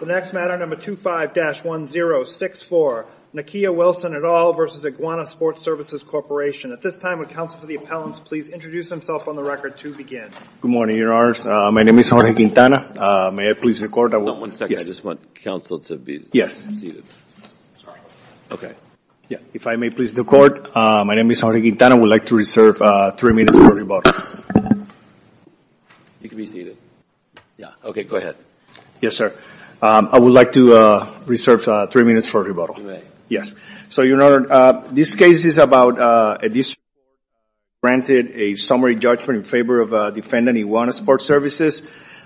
The next matter, number 25-1064, Nakia Wilson et al. v. Iguana Sport Services, Corp. At this time, would counsel to the appellants please introduce themselves on the record to begin. Good morning, your honors. My name is Jorge Quintana. May I please record? Not one second. I just want counsel to be seated. Sorry. Okay. Yeah. If I may please the court, my name is Jorge Quintana. I would like to reserve three minutes for rebuttal. You can be seated. Yeah. Okay, go ahead. Yes, sir. I would like to reserve three minutes for rebuttal. Yes. So, your honor, this case is about a district that granted a summary judgment in favor of defendant Iguana Sport Services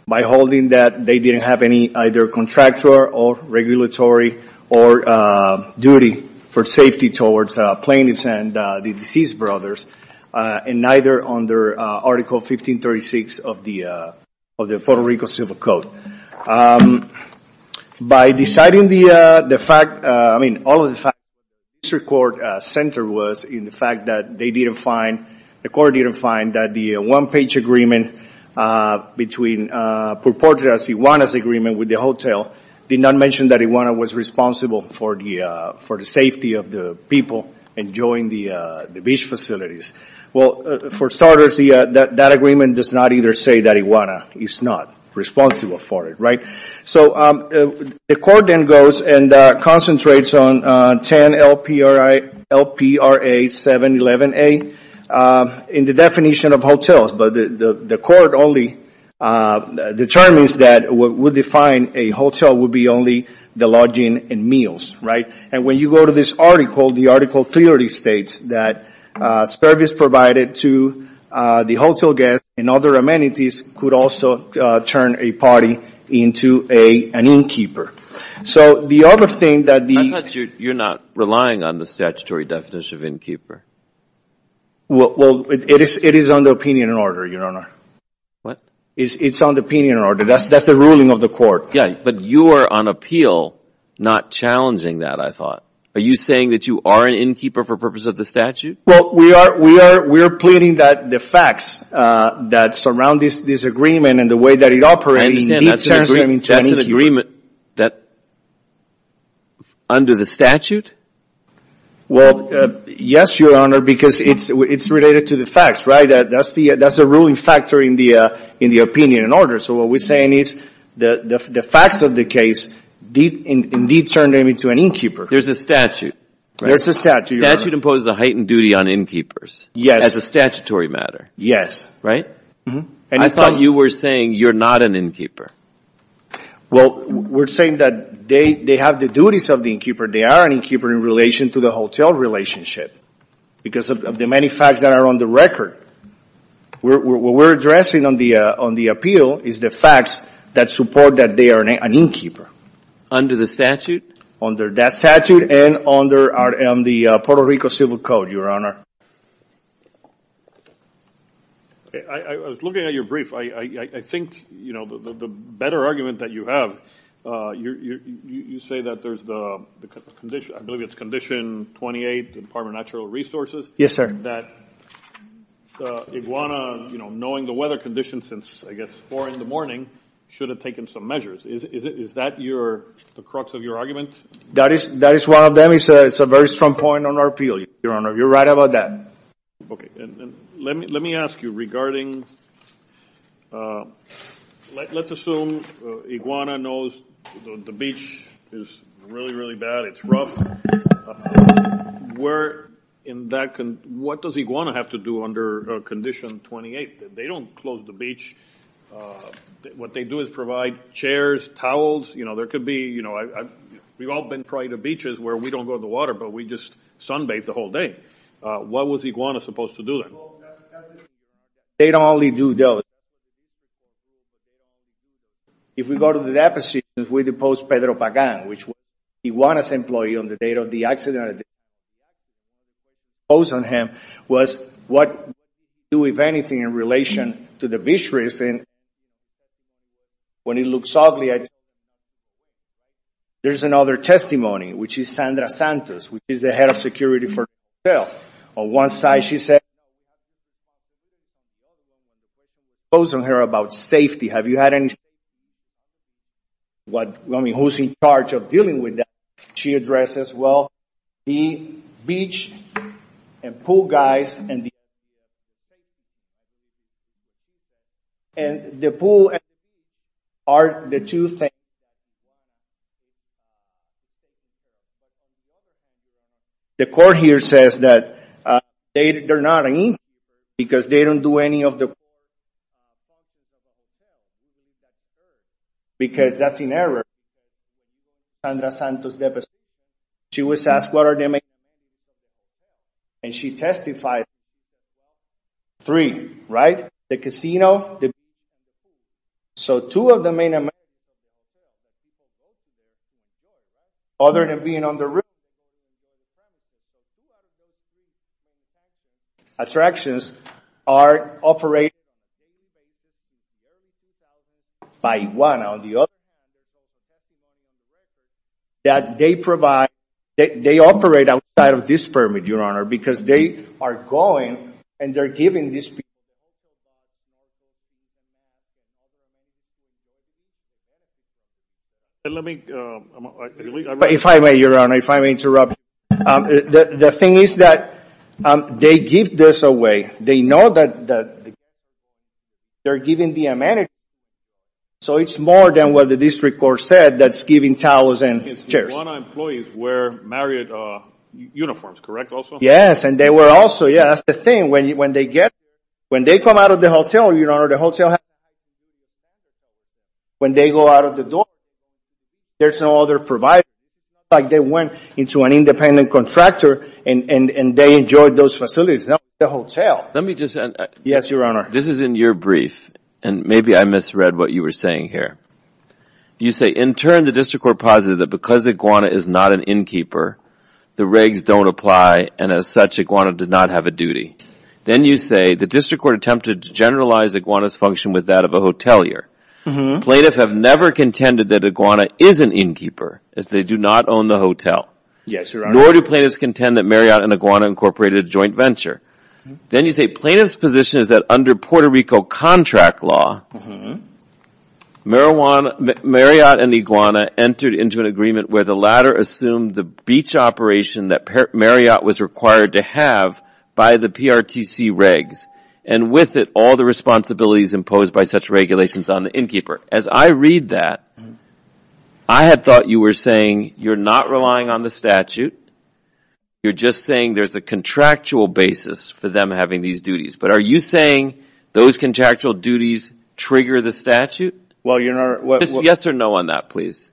by holding that they didn't have any either contractual or regulatory or duty for safety towards plaintiffs and the deceased brothers and neither under Article 1536 of the Puerto Rico Civil Code. By deciding the fact, I mean, all of the facts, the district court center was in the fact that they didn't find, the court didn't find that the one page agreement between purported as Iguana's agreement with the hotel did not mention that Iguana was responsible for the safety of the people enjoying the beach facilities. Well, for starters, that agreement does not either say that Iguana is not responsible for it. Right? So, the court then goes and concentrates on 10 LPRA 711A in the definition of hotels, but the court only determines that what would define a hotel would be only the lodging and meals, right? And when you go to this article, the article clearly states that service provided to the hotel guests and other amenities could also turn a party into an innkeeper. So, the other thing that the – I thought you're not relying on the statutory definition of innkeeper. Well, it is under opinion and order, Your Honor. What? It's under opinion and order. That's the ruling of the court. Yeah, but you are on appeal not challenging that, I thought. Are you saying that you are an innkeeper for the purpose of the statute? Well, we are pleading that the facts that surround this agreement and the way that it operates I understand. That's an agreement. Under the statute? Well, yes, Your Honor, because it's related to the facts, right? That's the ruling factor in the opinion and order. So, what we're saying is the facts of the case did indeed turn them into an innkeeper. There's a statute, right? There's a statute, Your Honor. The statute imposes a heightened duty on innkeepers as a statutory matter. Yes. Right? And I thought you were saying you're not an innkeeper. Well, we're saying that they have the duties of the innkeeper. They are an innkeeper in relation to the hotel relationship because of the many facts that are on the record. What we're addressing on the appeal is the facts that support that they are an innkeeper. Under the statute? Under that statute and under the Puerto Rico Civil Code, Your Honor. I was looking at your brief. I think the better argument that you have, you say that there's the condition, I believe it's condition 28, the Department of Natural Resources. Yes, sir. That Iguana, you know, knowing the weather conditions since, I guess, 4 in the morning, should have taken some measures. Is that the crux of your argument? That is one of them. It's a very strong point on our appeal, Your Honor. You're right about that. Okay. And let me ask you regarding, let's assume Iguana knows the beach is really, really bad. It's rough. Where in that, what does Iguana have to do under condition 28? They don't close the beach. What they do is provide chairs, towels, you know, there could be, you know, we've all been prior to beaches where we don't go to the water, but we just sunbathe the whole day. What was Iguana supposed to do then? They don't only do those. If we go to the deposition, we deposed Pedro Pagan, which Iguana's employee on the date of the accident, deposed on him, was, what do we do, if anything, in relation to the beach reason? When it looks ugly, there's another testimony, which is Sandra Santos, which is the head of security for the hotel. On one side, she said, deposed on her about safety. Have you had any, what, I mean, who's in charge of dealing with that? She addresses, well, the beach and pool guys, and the pool are the two things. The court here says that they're not in, because they don't do any of the, because that's an error, Sandra Santos deposed. She was asked what are the main, and she testified, three, right, the casino, the beach, so two of the main, other than being on the roof, attractions are operated by Iguana on the other side, that they provide, they operate outside of this permit, your honor, because they are going, and they're giving this, if I may, your honor, if I may interrupt, the thing is that they give this away, they know that they're giving the amenity, so it's more than what the district court said, that's giving towels and chairs. Iguana employees wear Marriott uniforms, correct, also? Yes, and they were also, yeah, that's the thing, when they get, when they come out of the hotel, your honor, the hotel, when they go out of the door, there's no other provider, like they went into an independent contractor, and they enjoyed those facilities, not the hotel. Let me just add. Yes, your honor. This is in your brief, and maybe I misread what you were saying here. You say, in turn, the district court posited that because Iguana is not an innkeeper, the regs don't apply, and as such, Iguana did not have a duty. Then you say, the district court attempted to generalize Iguana's function with that of a hotelier. Plaintiff have never contended that Iguana is an innkeeper, as they do not own the hotel. Yes, your honor. Nor do plaintiffs contend that Marriott and Iguana incorporated a joint venture. Then you say, plaintiff's position is that under Puerto Rico contract law, Marriott and into an agreement where the latter assumed the beach operation that Marriott was required to have by the PRTC regs, and with it, all the responsibilities imposed by such regulations on the innkeeper. As I read that, I had thought you were saying, you're not relying on the statute, you're just saying there's a contractual basis for them having these duties, but are you saying those contractual duties trigger the statute? Well, your honor. Yes or no on that, please.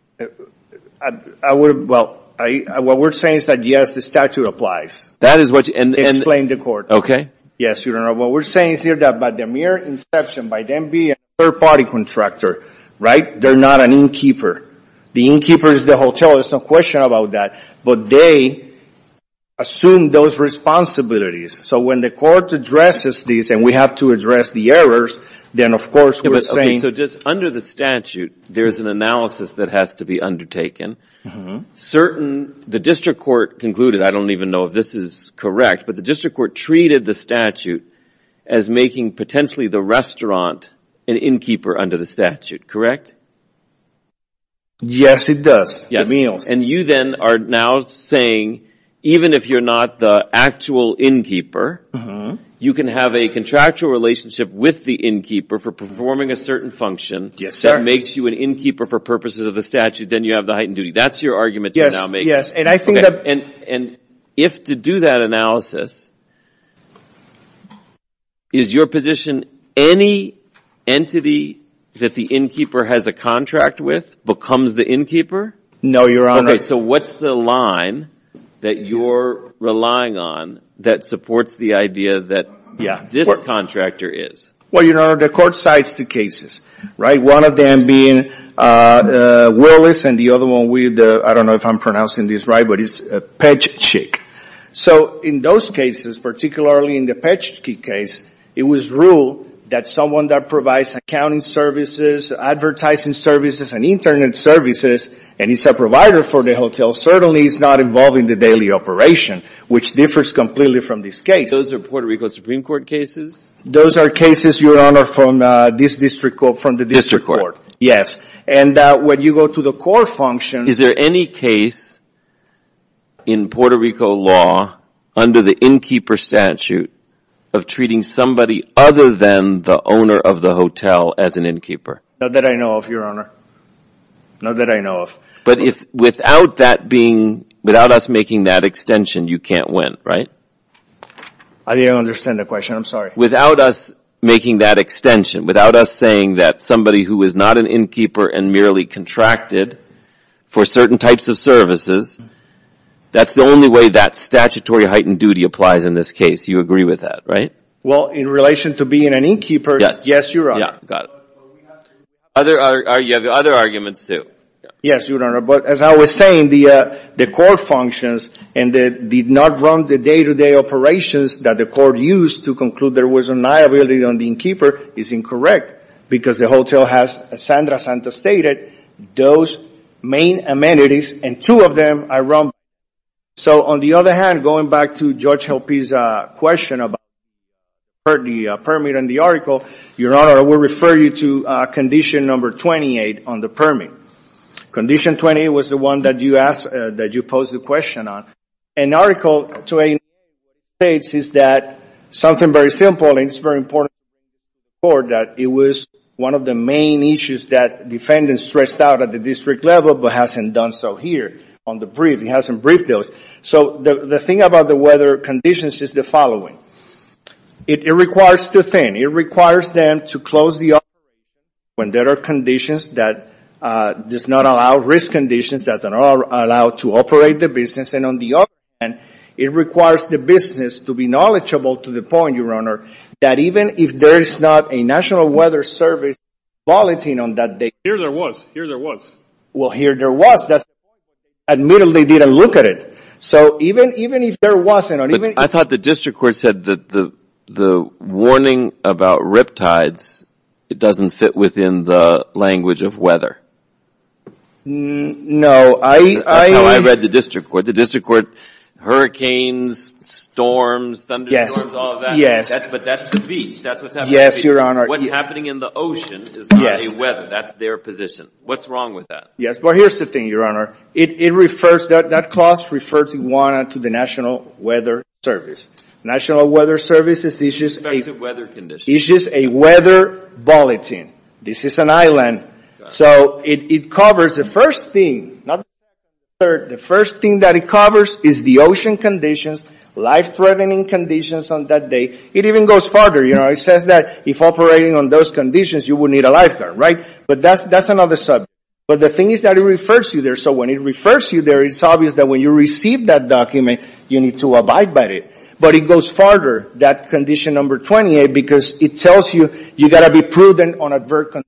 I would, well, what we're saying is that yes, the statute applies. That is what you, and. Explain the court. Okay. Yes, your honor. What we're saying is here that by the mere inception, by them being a third-party contractor, right, they're not an innkeeper. The innkeeper is the hotel, there's no question about that, but they assume those responsibilities. So when the court addresses these, and we have to address the errors, then of course we're saying. Okay, so just under the statute, there's an analysis that has to be undertaken. Certain, the district court concluded, I don't even know if this is correct, but the district court treated the statute as making potentially the restaurant an innkeeper under the statute, correct? Yes, it does, the meals. And you then are now saying, even if you're not the actual innkeeper, you can have a contractual relationship with the innkeeper for performing a certain function that makes you an innkeeper for purposes of the statute, then you have the heightened duty. That's your argument you're now making. Yes, yes. And I think that. Okay, and if to do that analysis, is your position any entity that the innkeeper has a contract with becomes the innkeeper? No, your honor. Okay, so what's the line that you're relying on that supports the idea that this contract, this contractor is? Well, your honor, the court cites two cases, right? One of them being Willis, and the other one, I don't know if I'm pronouncing this right, but it's Petschick. So in those cases, particularly in the Petschick case, it was ruled that someone that provides accounting services, advertising services, and internet services, and is a provider for the hotel, certainly is not involved in the daily operation, which differs completely from this case. Those are Puerto Rico Supreme Court cases? Those are cases, your honor, from this district court, from the district court, yes. And when you go to the court function. Is there any case in Puerto Rico law under the innkeeper statute of treating somebody other than the owner of the hotel as an innkeeper? Not that I know of, your honor. Not that I know of. But if, without that being, without us making that extension, you can't win, right? I didn't understand the question, I'm sorry. Without us making that extension, without us saying that somebody who is not an innkeeper and merely contracted for certain types of services, that's the only way that statutory heightened duty applies in this case. You agree with that, right? Well, in relation to being an innkeeper, yes, your honor. Yeah, got it. But we have to... Other arguments, too. Yes, your honor. But as I was saying, the court functions and did not run the day-to-day operations that the court used to conclude there was a liability on the innkeeper is incorrect because the hotel has, as Sandra Santa stated, those main amenities and two of them are run by the innkeeper. So on the other hand, going back to Judge Helpe's question about the permit in the article, your honor, I will refer you to condition number 28 on the permit. Condition 28 was the one that you posed the question on. An article 28 states that something very simple and it's very important for the court that it was one of the main issues that defendants stressed out at the district level but hasn't done so here on the brief, he hasn't briefed those. So the thing about the weather conditions is the following. It requires two things. One, it requires them to close the... When there are conditions that does not allow risk conditions that are allowed to operate the business. And on the other hand, it requires the business to be knowledgeable to the point, your honor, that even if there is not a National Weather Service volunteering on that day... Here there was. Here there was. Well, here there was. That's... Admittedly, they didn't look at it. So even if there wasn't or even... I thought the district court said that the warning about riptides, it doesn't fit within the language of weather. No, I... That's how I read the district court. The district court, hurricanes, storms, thunderstorms, all of that. But that's the beach. That's what's happening. Yes, your honor. What's happening in the ocean is not a weather. That's their position. What's wrong with that? Yes. Well, here's the thing, your honor. It refers... That clause refers, your honor, to the National Weather Service. National Weather Service is just a... It's a weather condition. It's just a weather bulletin. This is an island. So it covers the first thing, not the weather. The first thing that it covers is the ocean conditions, life-threatening conditions on that day. It even goes farther. It says that if operating on those conditions, you will need a lifeguard, right? But that's another subject. But the thing is that it refers you there. So when it refers you there, it's obvious that when you receive that document, you need to abide by it. But it goes farther, that condition number 28, because it tells you, you got to be prudent on adverse conditions.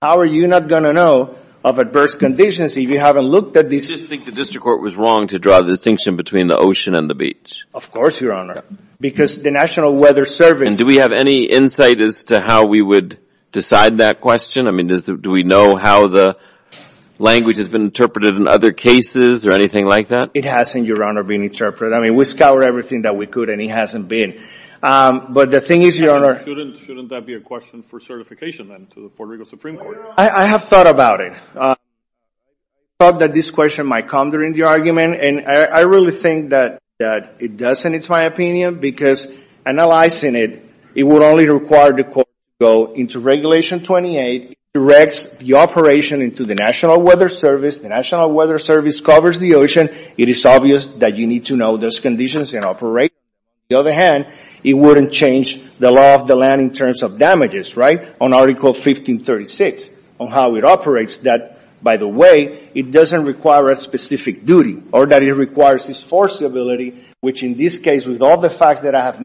How are you not going to know of adverse conditions if you haven't looked at these... Do you just think the district court was wrong to draw the distinction between the ocean and the beach? Of course, your honor. Because the National Weather Service... Do we have any insight as to how we would decide that question? I mean, do we know how the language has been interpreted in other cases or anything like that? It hasn't, your honor, been interpreted. I mean, we scoured everything that we could, and it hasn't been. But the thing is, your honor... Shouldn't that be a question for certification, then, to the Puerto Rico Supreme Court? I have thought about it. I thought that this question might come during the argument. And I really think that it doesn't, it's my opinion, because analyzing it, it would only require the court to go into Regulation 28, directs the operation into the National Weather Service. The National Weather Service covers the ocean. It is obvious that you need to know those conditions and operate. On the other hand, it wouldn't change the law of the land in terms of damages, right? On Article 1536, on how it operates, that, by the way, it doesn't require a specific duty or that it requires this forcibility, which in this case, with all the fact that I have...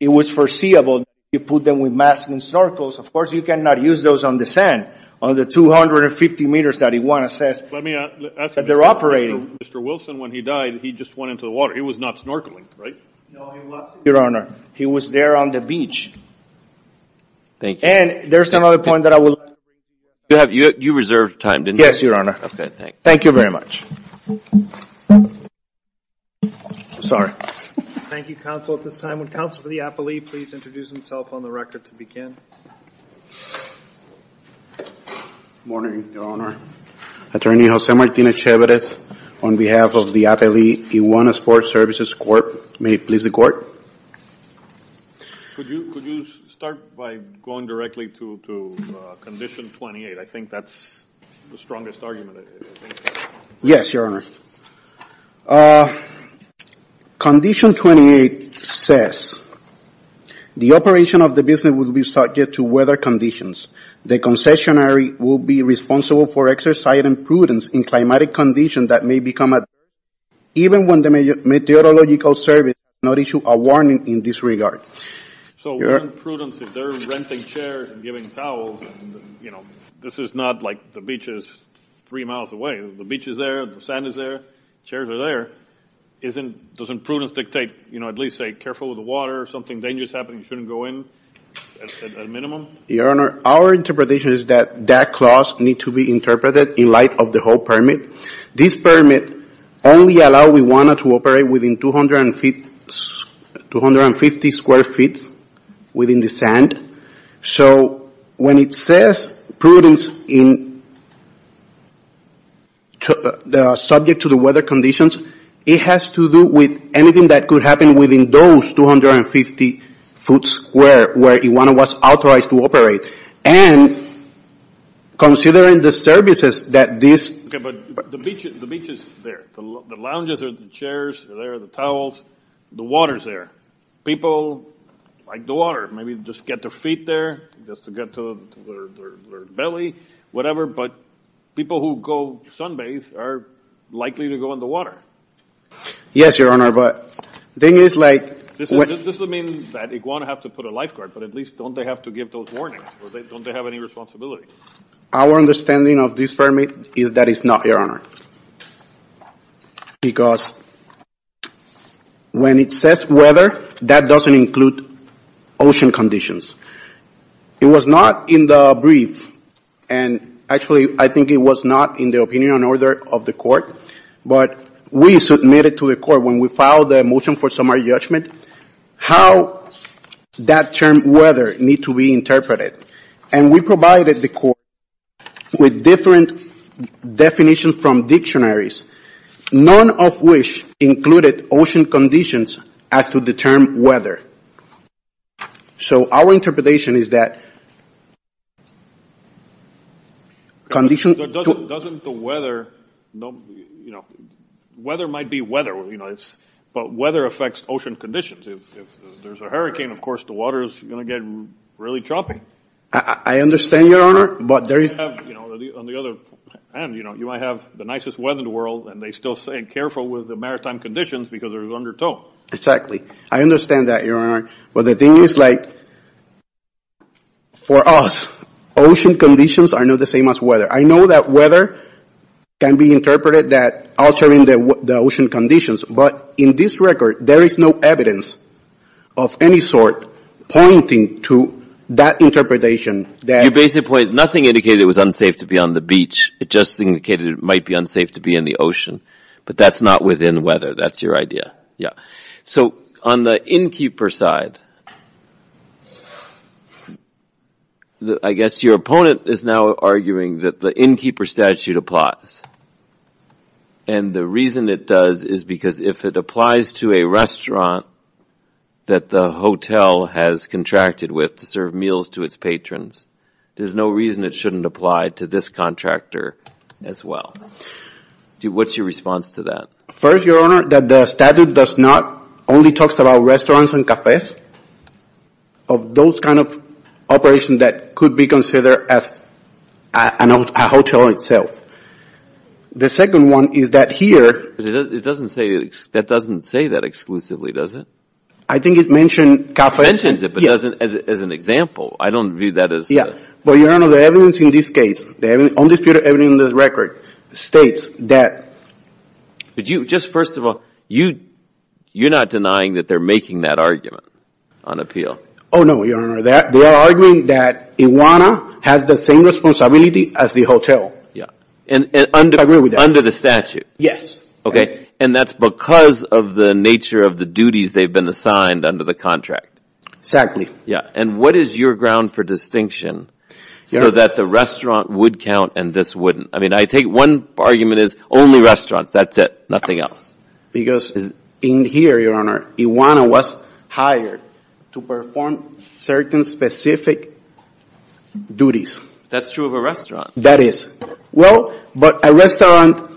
It was foreseeable, you put them with masks and snorkels, of course, you cannot use those on the sand, on the 250 meters that you want to assess that they're operating. Let me ask you this, Mr. Wilson, when he died, he just went into the water. He was not snorkeling, right? No, he was, your honor. He was there on the beach. And there's another point that I will... You reserved time, didn't you? Yes, your honor. Okay, thanks. Thank you very much. Sorry. Thank you, counsel. At this time, would counsel for the appellee please introduce himself on the record to begin? Good morning, your honor. Attorney Jose Martinez Chaverez on behalf of the appellee, Iguana Sports Services Court. May it please the court? Could you start by going directly to Condition 28? I think that's the strongest argument, I think. Yes, your honor. Yes, your honor. Condition 28 says, the operation of the business will be subject to weather conditions. The concessionary will be responsible for exercising prudence in climatic conditions that may become a threat even when the meteorological service does not issue a warning in this regard. So prudence if they're renting chairs and giving towels and this is not like the beach is three miles away. The beach is there, the sand is there, the chairs are there, doesn't prudence dictate you know at least say careful with the water, if something dangerous is happening you shouldn't go in at minimum? Your honor, our interpretation is that that clause needs to be interpreted in light of the whole permit. This permit only allows Iguana to operate within 250 square feet within the sand. So when it says prudence subject to the weather conditions, it has to do with anything that could happen within those 250 foot square where Iguana was authorized to operate. And considering the services that this... But the beach is there, the lounges are there, the chairs are there, the towels, the water is there. People like the water, maybe just get their feet there, just to get to their belly, whatever, but people who go sunbathe are likely to go in the water. Yes your honor, but the thing is like... This would mean that Iguana would have to put a lifeguard, but at least don't they have to give those warnings? Don't they have any responsibility? Our understanding of this permit is that it's not your honor. Because when it says weather, that doesn't include ocean conditions. It was not in the brief, and actually I think it was not in the opinion and order of the court, but we submitted to the court when we filed the motion for summary judgment how that term weather needs to be interpreted. And we provided the court with different definitions from dictionaries, none of which included ocean conditions as to the term weather. So our interpretation is that... Condition... Doesn't the weather... Weather might be weather, but weather affects ocean conditions. If there's a hurricane, of course the water is going to get really choppy. I understand your honor, but there is... On the other hand, you might have the nicest weather in the world, and they're still saying careful with the maritime conditions because they're under tow. Exactly. I understand that your honor, but the thing is like, for us, ocean conditions are not the same as weather. I know that weather can be interpreted that altering the ocean conditions, but in this record, there is no evidence of any sort pointing to that interpretation that... Your basic point, nothing indicated it was unsafe to be on the beach. It just indicated it might be unsafe to be in the ocean, but that's not within weather. That's your idea. Yeah. So on the innkeeper side, I guess your opponent is now arguing that the innkeeper statute applies. And the reason it does is because if it applies to a restaurant that the hotel has contracted with to serve meals to its patrons, there's no reason it shouldn't apply to this contractor as well. What's your response to that? First, your honor, that the statute does not only talks about restaurants and cafes. of those kind of operations that could be considered as a hotel itself. The second one is that here... It doesn't say that exclusively, does it? I think it mentions cafes... It mentions it, but doesn't as an example. I don't view that as... But your honor, the evidence in this case, the only evidence in this record states that... But you, just first of all, you're not denying that they're making that argument on appeal? Oh, no, your honor. They are arguing that Iwana has the same responsibility as the hotel. Yeah. I agree with that. Under the statute? Yes. Okay. And that's because of the nature of the duties they've been assigned under the contract? Exactly. Yeah. And what is your ground for distinction so that the restaurant would count and this wouldn't? I mean, I take one argument is only restaurants, that's it, nothing else. Because in here, your honor, Iwana was hired to perform certain specific duties. That's true of a restaurant. That is. Well, but a restaurant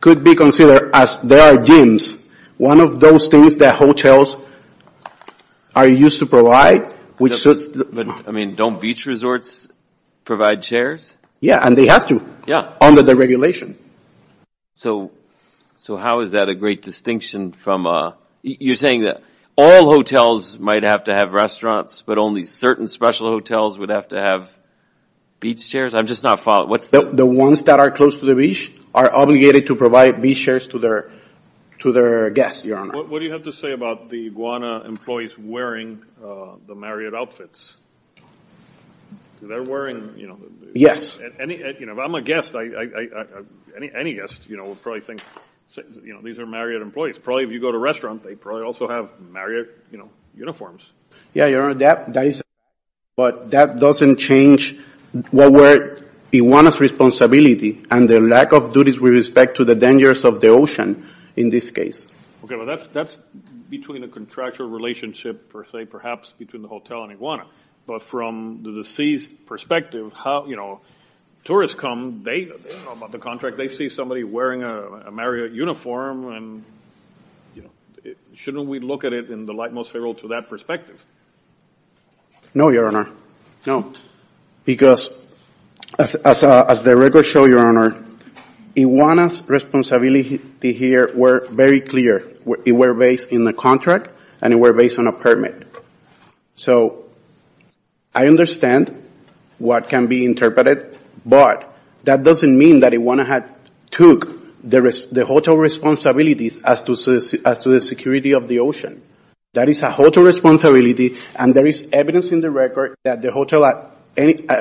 could be considered as there are gyms. One of those things that hotels are used to provide, which suits... I mean, don't beach resorts provide chairs? Yeah. And they have to. Yeah. Under the regulation. So, how is that a great distinction from... You're saying that all hotels might have to have restaurants, but only certain special hotels would have to have beach chairs? I'm just not following. What's the... The ones that are close to the beach are obligated to provide beach chairs to their guests, your honor. What do you have to say about the Iwana employees wearing the Marriott outfits? They're wearing... Yes. If I'm a guest, any guest would probably think these are Marriott employees. Probably, if you go to a restaurant, they probably also have Marriott uniforms. Yeah, your honor, that is... But that doesn't change what were Iwana's responsibility and their lack of duties with respect to the dangers of the ocean in this case. Okay. Well, that's between the contractual relationship, per se, perhaps between the hotel and Iwana. But from the deceased's perspective, tourists come, they know about the contract, they see somebody wearing a Marriott uniform, and shouldn't we look at it in the light most favorable to that perspective? No, your honor, no. Because as the records show, your honor, Iwana's responsibility here were very clear. It were based in the contract, and it were based on a permit. So, I understand what can be interpreted, but that doesn't mean that Iwana had took the hotel responsibilities as to the security of the ocean. That is a hotel responsibility, and there is evidence in the record that the hotel at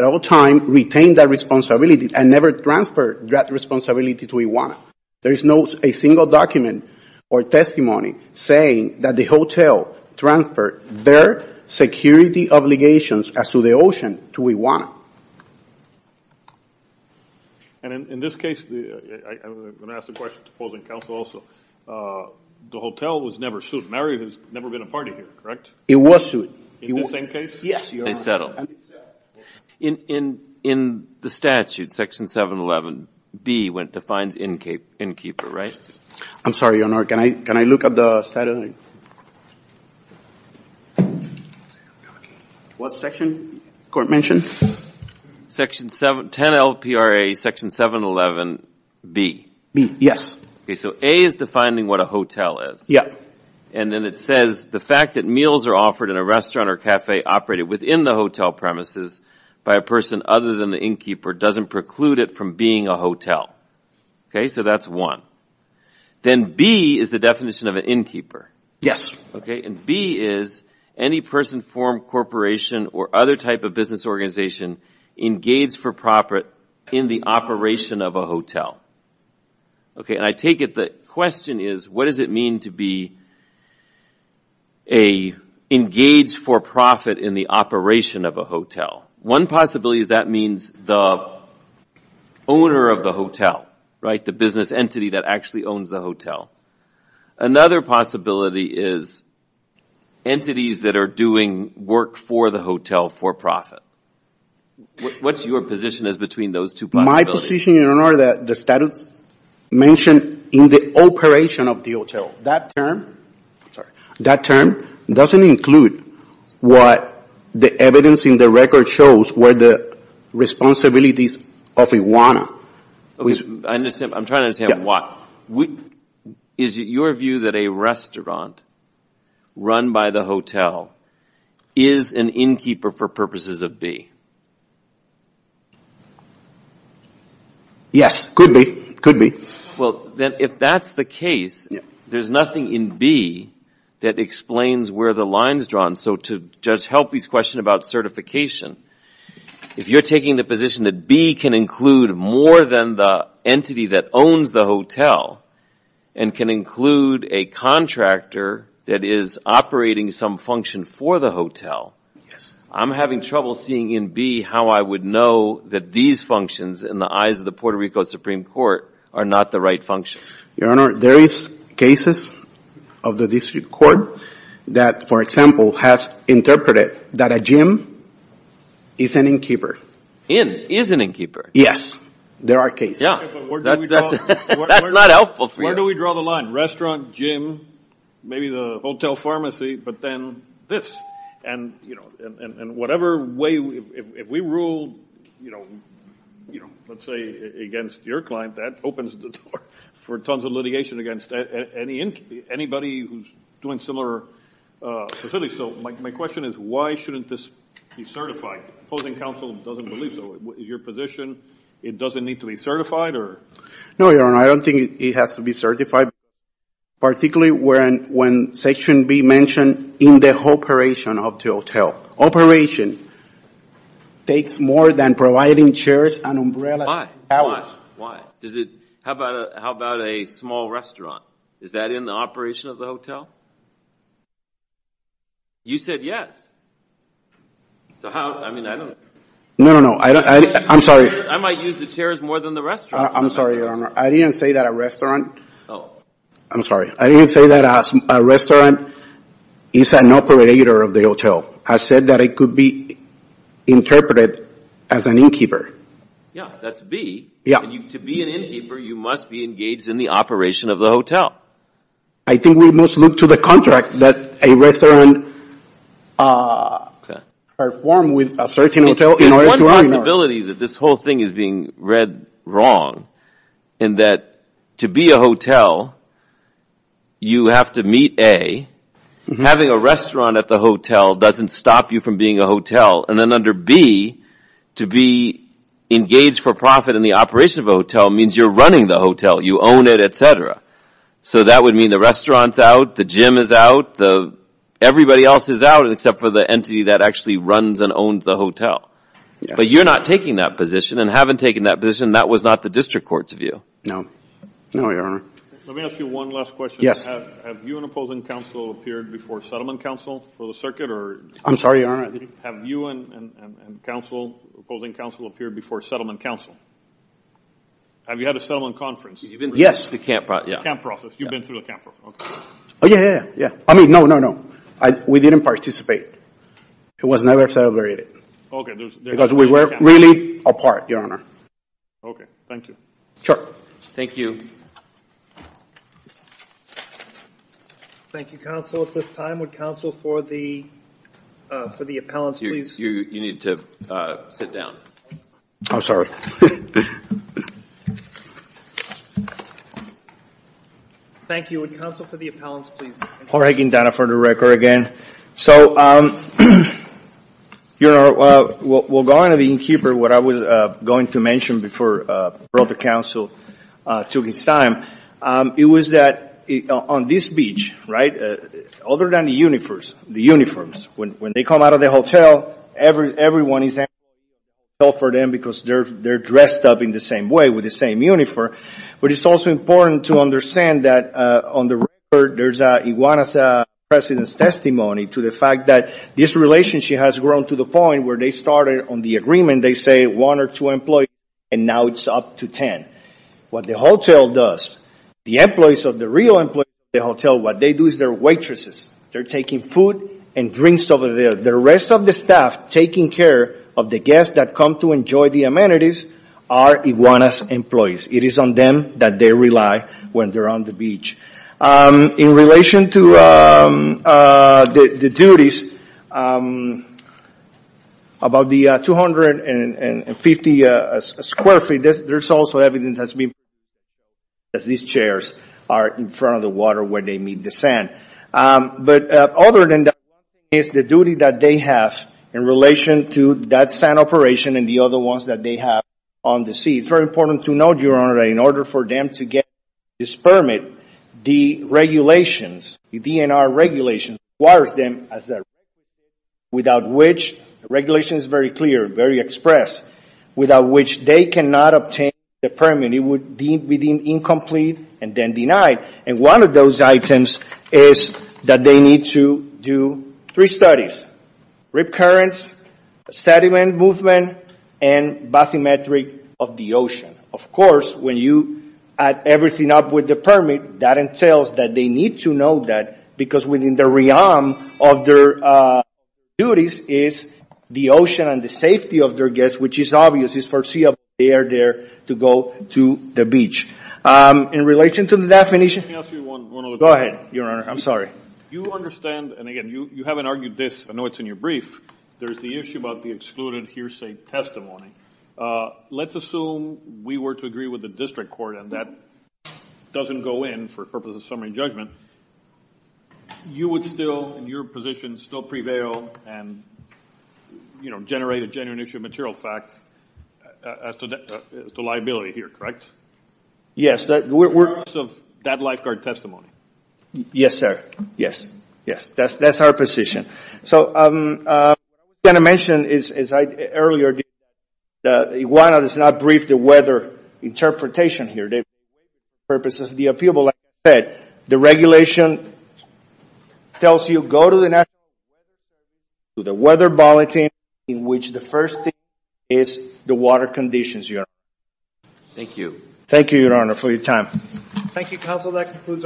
all time retained that responsibility and never transferred that responsibility to Iwana. There is not a single document or testimony saying that the hotel transferred their security obligations as to the ocean to Iwana. And in this case, I'm going to ask the question to opposing counsel also, the hotel was never sued. Marriott has never been a part of here, correct? It was sued. In the same case? Yes, your honor. In the statute, section 711B, when it defines innkeeper, right? I'm sorry, your honor, can I look at the statute? What section? The court mentioned? Section 7, 10 LPRA, section 711B. B, yes. Okay, so A is defining what a hotel is. Yeah. And then it says, the fact that meals are offered in a restaurant or cafe operated within the hotel premises by a person other than the innkeeper doesn't preclude it from being a hotel. Okay, so that's one. Then B is the definition of an innkeeper. Yes. Okay, and B is any person, firm, corporation or other type of business organization engaged for profit in the operation of a hotel. Okay, and I take it the question is, what does it mean to be engaged for profit in the operation of a hotel? One possibility is that means the owner of the hotel, right? The business entity that actually owns the hotel. Another possibility is entities that are doing work for the hotel for profit. What's your position as between those two possibilities? My position, your honor, the statute mentioned in the operation of the hotel. That term doesn't include what the evidence in the record shows were the responsibilities of Iwana. I'm trying to understand why. Is it your view that a restaurant run by the hotel is an innkeeper for purposes of B? Yes, could be. Well, then if that's the case, there's nothing in B that explains where the line is drawn. So to Judge Helpe's question about certification, if you're taking the position that B can include more than the entity that owns the hotel and can include a contractor that is operating some function for the hotel, I'm having trouble seeing in B how I would know that these functions in the eyes of the Puerto Rico Supreme Court are not the right function. Your honor, there is cases of the district court that, for example, has interpreted that a gym is an innkeeper. Inn is an innkeeper. Yes, there are cases. That's not helpful for you. Where do we draw the line? Restaurant, gym, maybe the hotel pharmacy, but then this. And whatever way we rule, let's say against your client, that opens the door for tons of litigation against anybody who's doing similar facilities. So my question is why shouldn't this be certified? Opposing counsel doesn't believe so. Is your position it doesn't need to be certified? No, your honor, I don't think it has to be certified. Particularly when section B mentioned in the operation of the hotel. Operation takes more than providing chairs and umbrellas. How about a small restaurant? Is that in the operation of the hotel? You said yes. So how, I mean, I don't know. No, no, no. I'm sorry. I might use the chairs more than the restaurant. I'm sorry, your honor. I didn't say that a restaurant, I'm sorry. I didn't say that a restaurant is an operator of the hotel. I said that it could be interpreted as an innkeeper. Yeah, that's B. Yeah. To be an innkeeper, you must be engaged in the operation of the hotel. I think we must look to the contract that a restaurant perform with a certain hotel in order to earn more. I think there's a possibility that this whole thing is being read wrong and that to be a hotel, you have to meet A. Having a restaurant at the hotel doesn't stop you from being a hotel. And then under B, to be engaged for profit in the operation of a hotel means you're running the hotel. You own it, et cetera. So that would mean the restaurant's out, the gym is out, everybody else is out except for the entity that actually runs and owns the hotel. But you're not taking that position, and having taken that position, that was not the district court's view. No, your honor. Let me ask you one last question. Have you and opposing counsel appeared before settlement counsel for the circuit? I'm sorry, your honor. Have you and opposing counsel appeared before settlement counsel? Have you had a settlement conference? Yes. The camp process. You've been through the camp process. Oh, yeah, yeah, yeah. I mean, no, no, no. We didn't participate. It was never celebrated. Okay. Because we were really apart, your honor. Okay. Thank you. Sure. Thank you. Thank you, counsel. At this time, would counsel for the appellants, please. You need to sit down. I'm sorry. Thank you. Would counsel for the appellants, please. Jorge Guindana for the record again. Okay. So, your honor, we'll go on to the innkeeper. What I was going to mention before brother counsel took his time, it was that on this beach, right, other than the uniforms, when they come out of the hotel, everyone is in the hotel for them because they're dressed up in the same way with the same uniform. But it's also important to understand that on the record, there's Iguana's president's testimony to the fact that this relationship has grown to the point where they started on the agreement, they say one or two employees, and now it's up to 10. What the hotel does, the employees of the real employees of the hotel, what they do is they're waitresses. They're taking food and drinks over there. The rest of the staff taking care of the guests that come to enjoy the amenities are Iguana's employees. It is on them that they rely when they're on the beach. In relation to the duties, about the 250 square feet, there's also evidence that's been provided as these chairs are in front of the water where they meet the sand. But other than that, it's the duty that they have in relation to that sand operation and the other ones that they have on the sea. It's very important to note, Your Honor, that in order for them to get this permit, the regulations, the DNR regulations, requires them, without which regulation is very clear, very expressed, without which they cannot obtain the permit. It would be deemed incomplete and then denied. And one of those items is that they need to do three studies, rip currents, sediment movement, and bathymetric of the ocean. Of course, when you add everything up with the permit, that entails that they need to know that, because within the realm of their duties is the ocean and the safety of their guests, which is obvious. It's foreseeable they are there to go to the beach. In relation to the dathmanitia? Let me ask you one other question. Go ahead, Your Honor. I'm sorry. You understand, and again, you haven't argued this. I know it's in your brief. There's the issue about the excluded hearsay testimony. Let's assume we were to agree with the district court and that doesn't go in for purposes of summary judgment. You would still, in your position, still prevail and generate a genuine issue of material fact as to liability here, correct? Yes. Yes. We're in favor of that lifeguard testimony. Yes, sir. Yes. Yes. That's our position. So what I'm going to mention is, as I said earlier, that Iguana does not brief the weather interpretation here. They do it for the purposes of the appeal. But, like I said, the regulation tells you go to the National Weather Bureau, in which the first thing is the water conditions, Your Honor. Thank you. Thank you, Your Honor, for your time. Thank you, counsel. That concludes argument number one.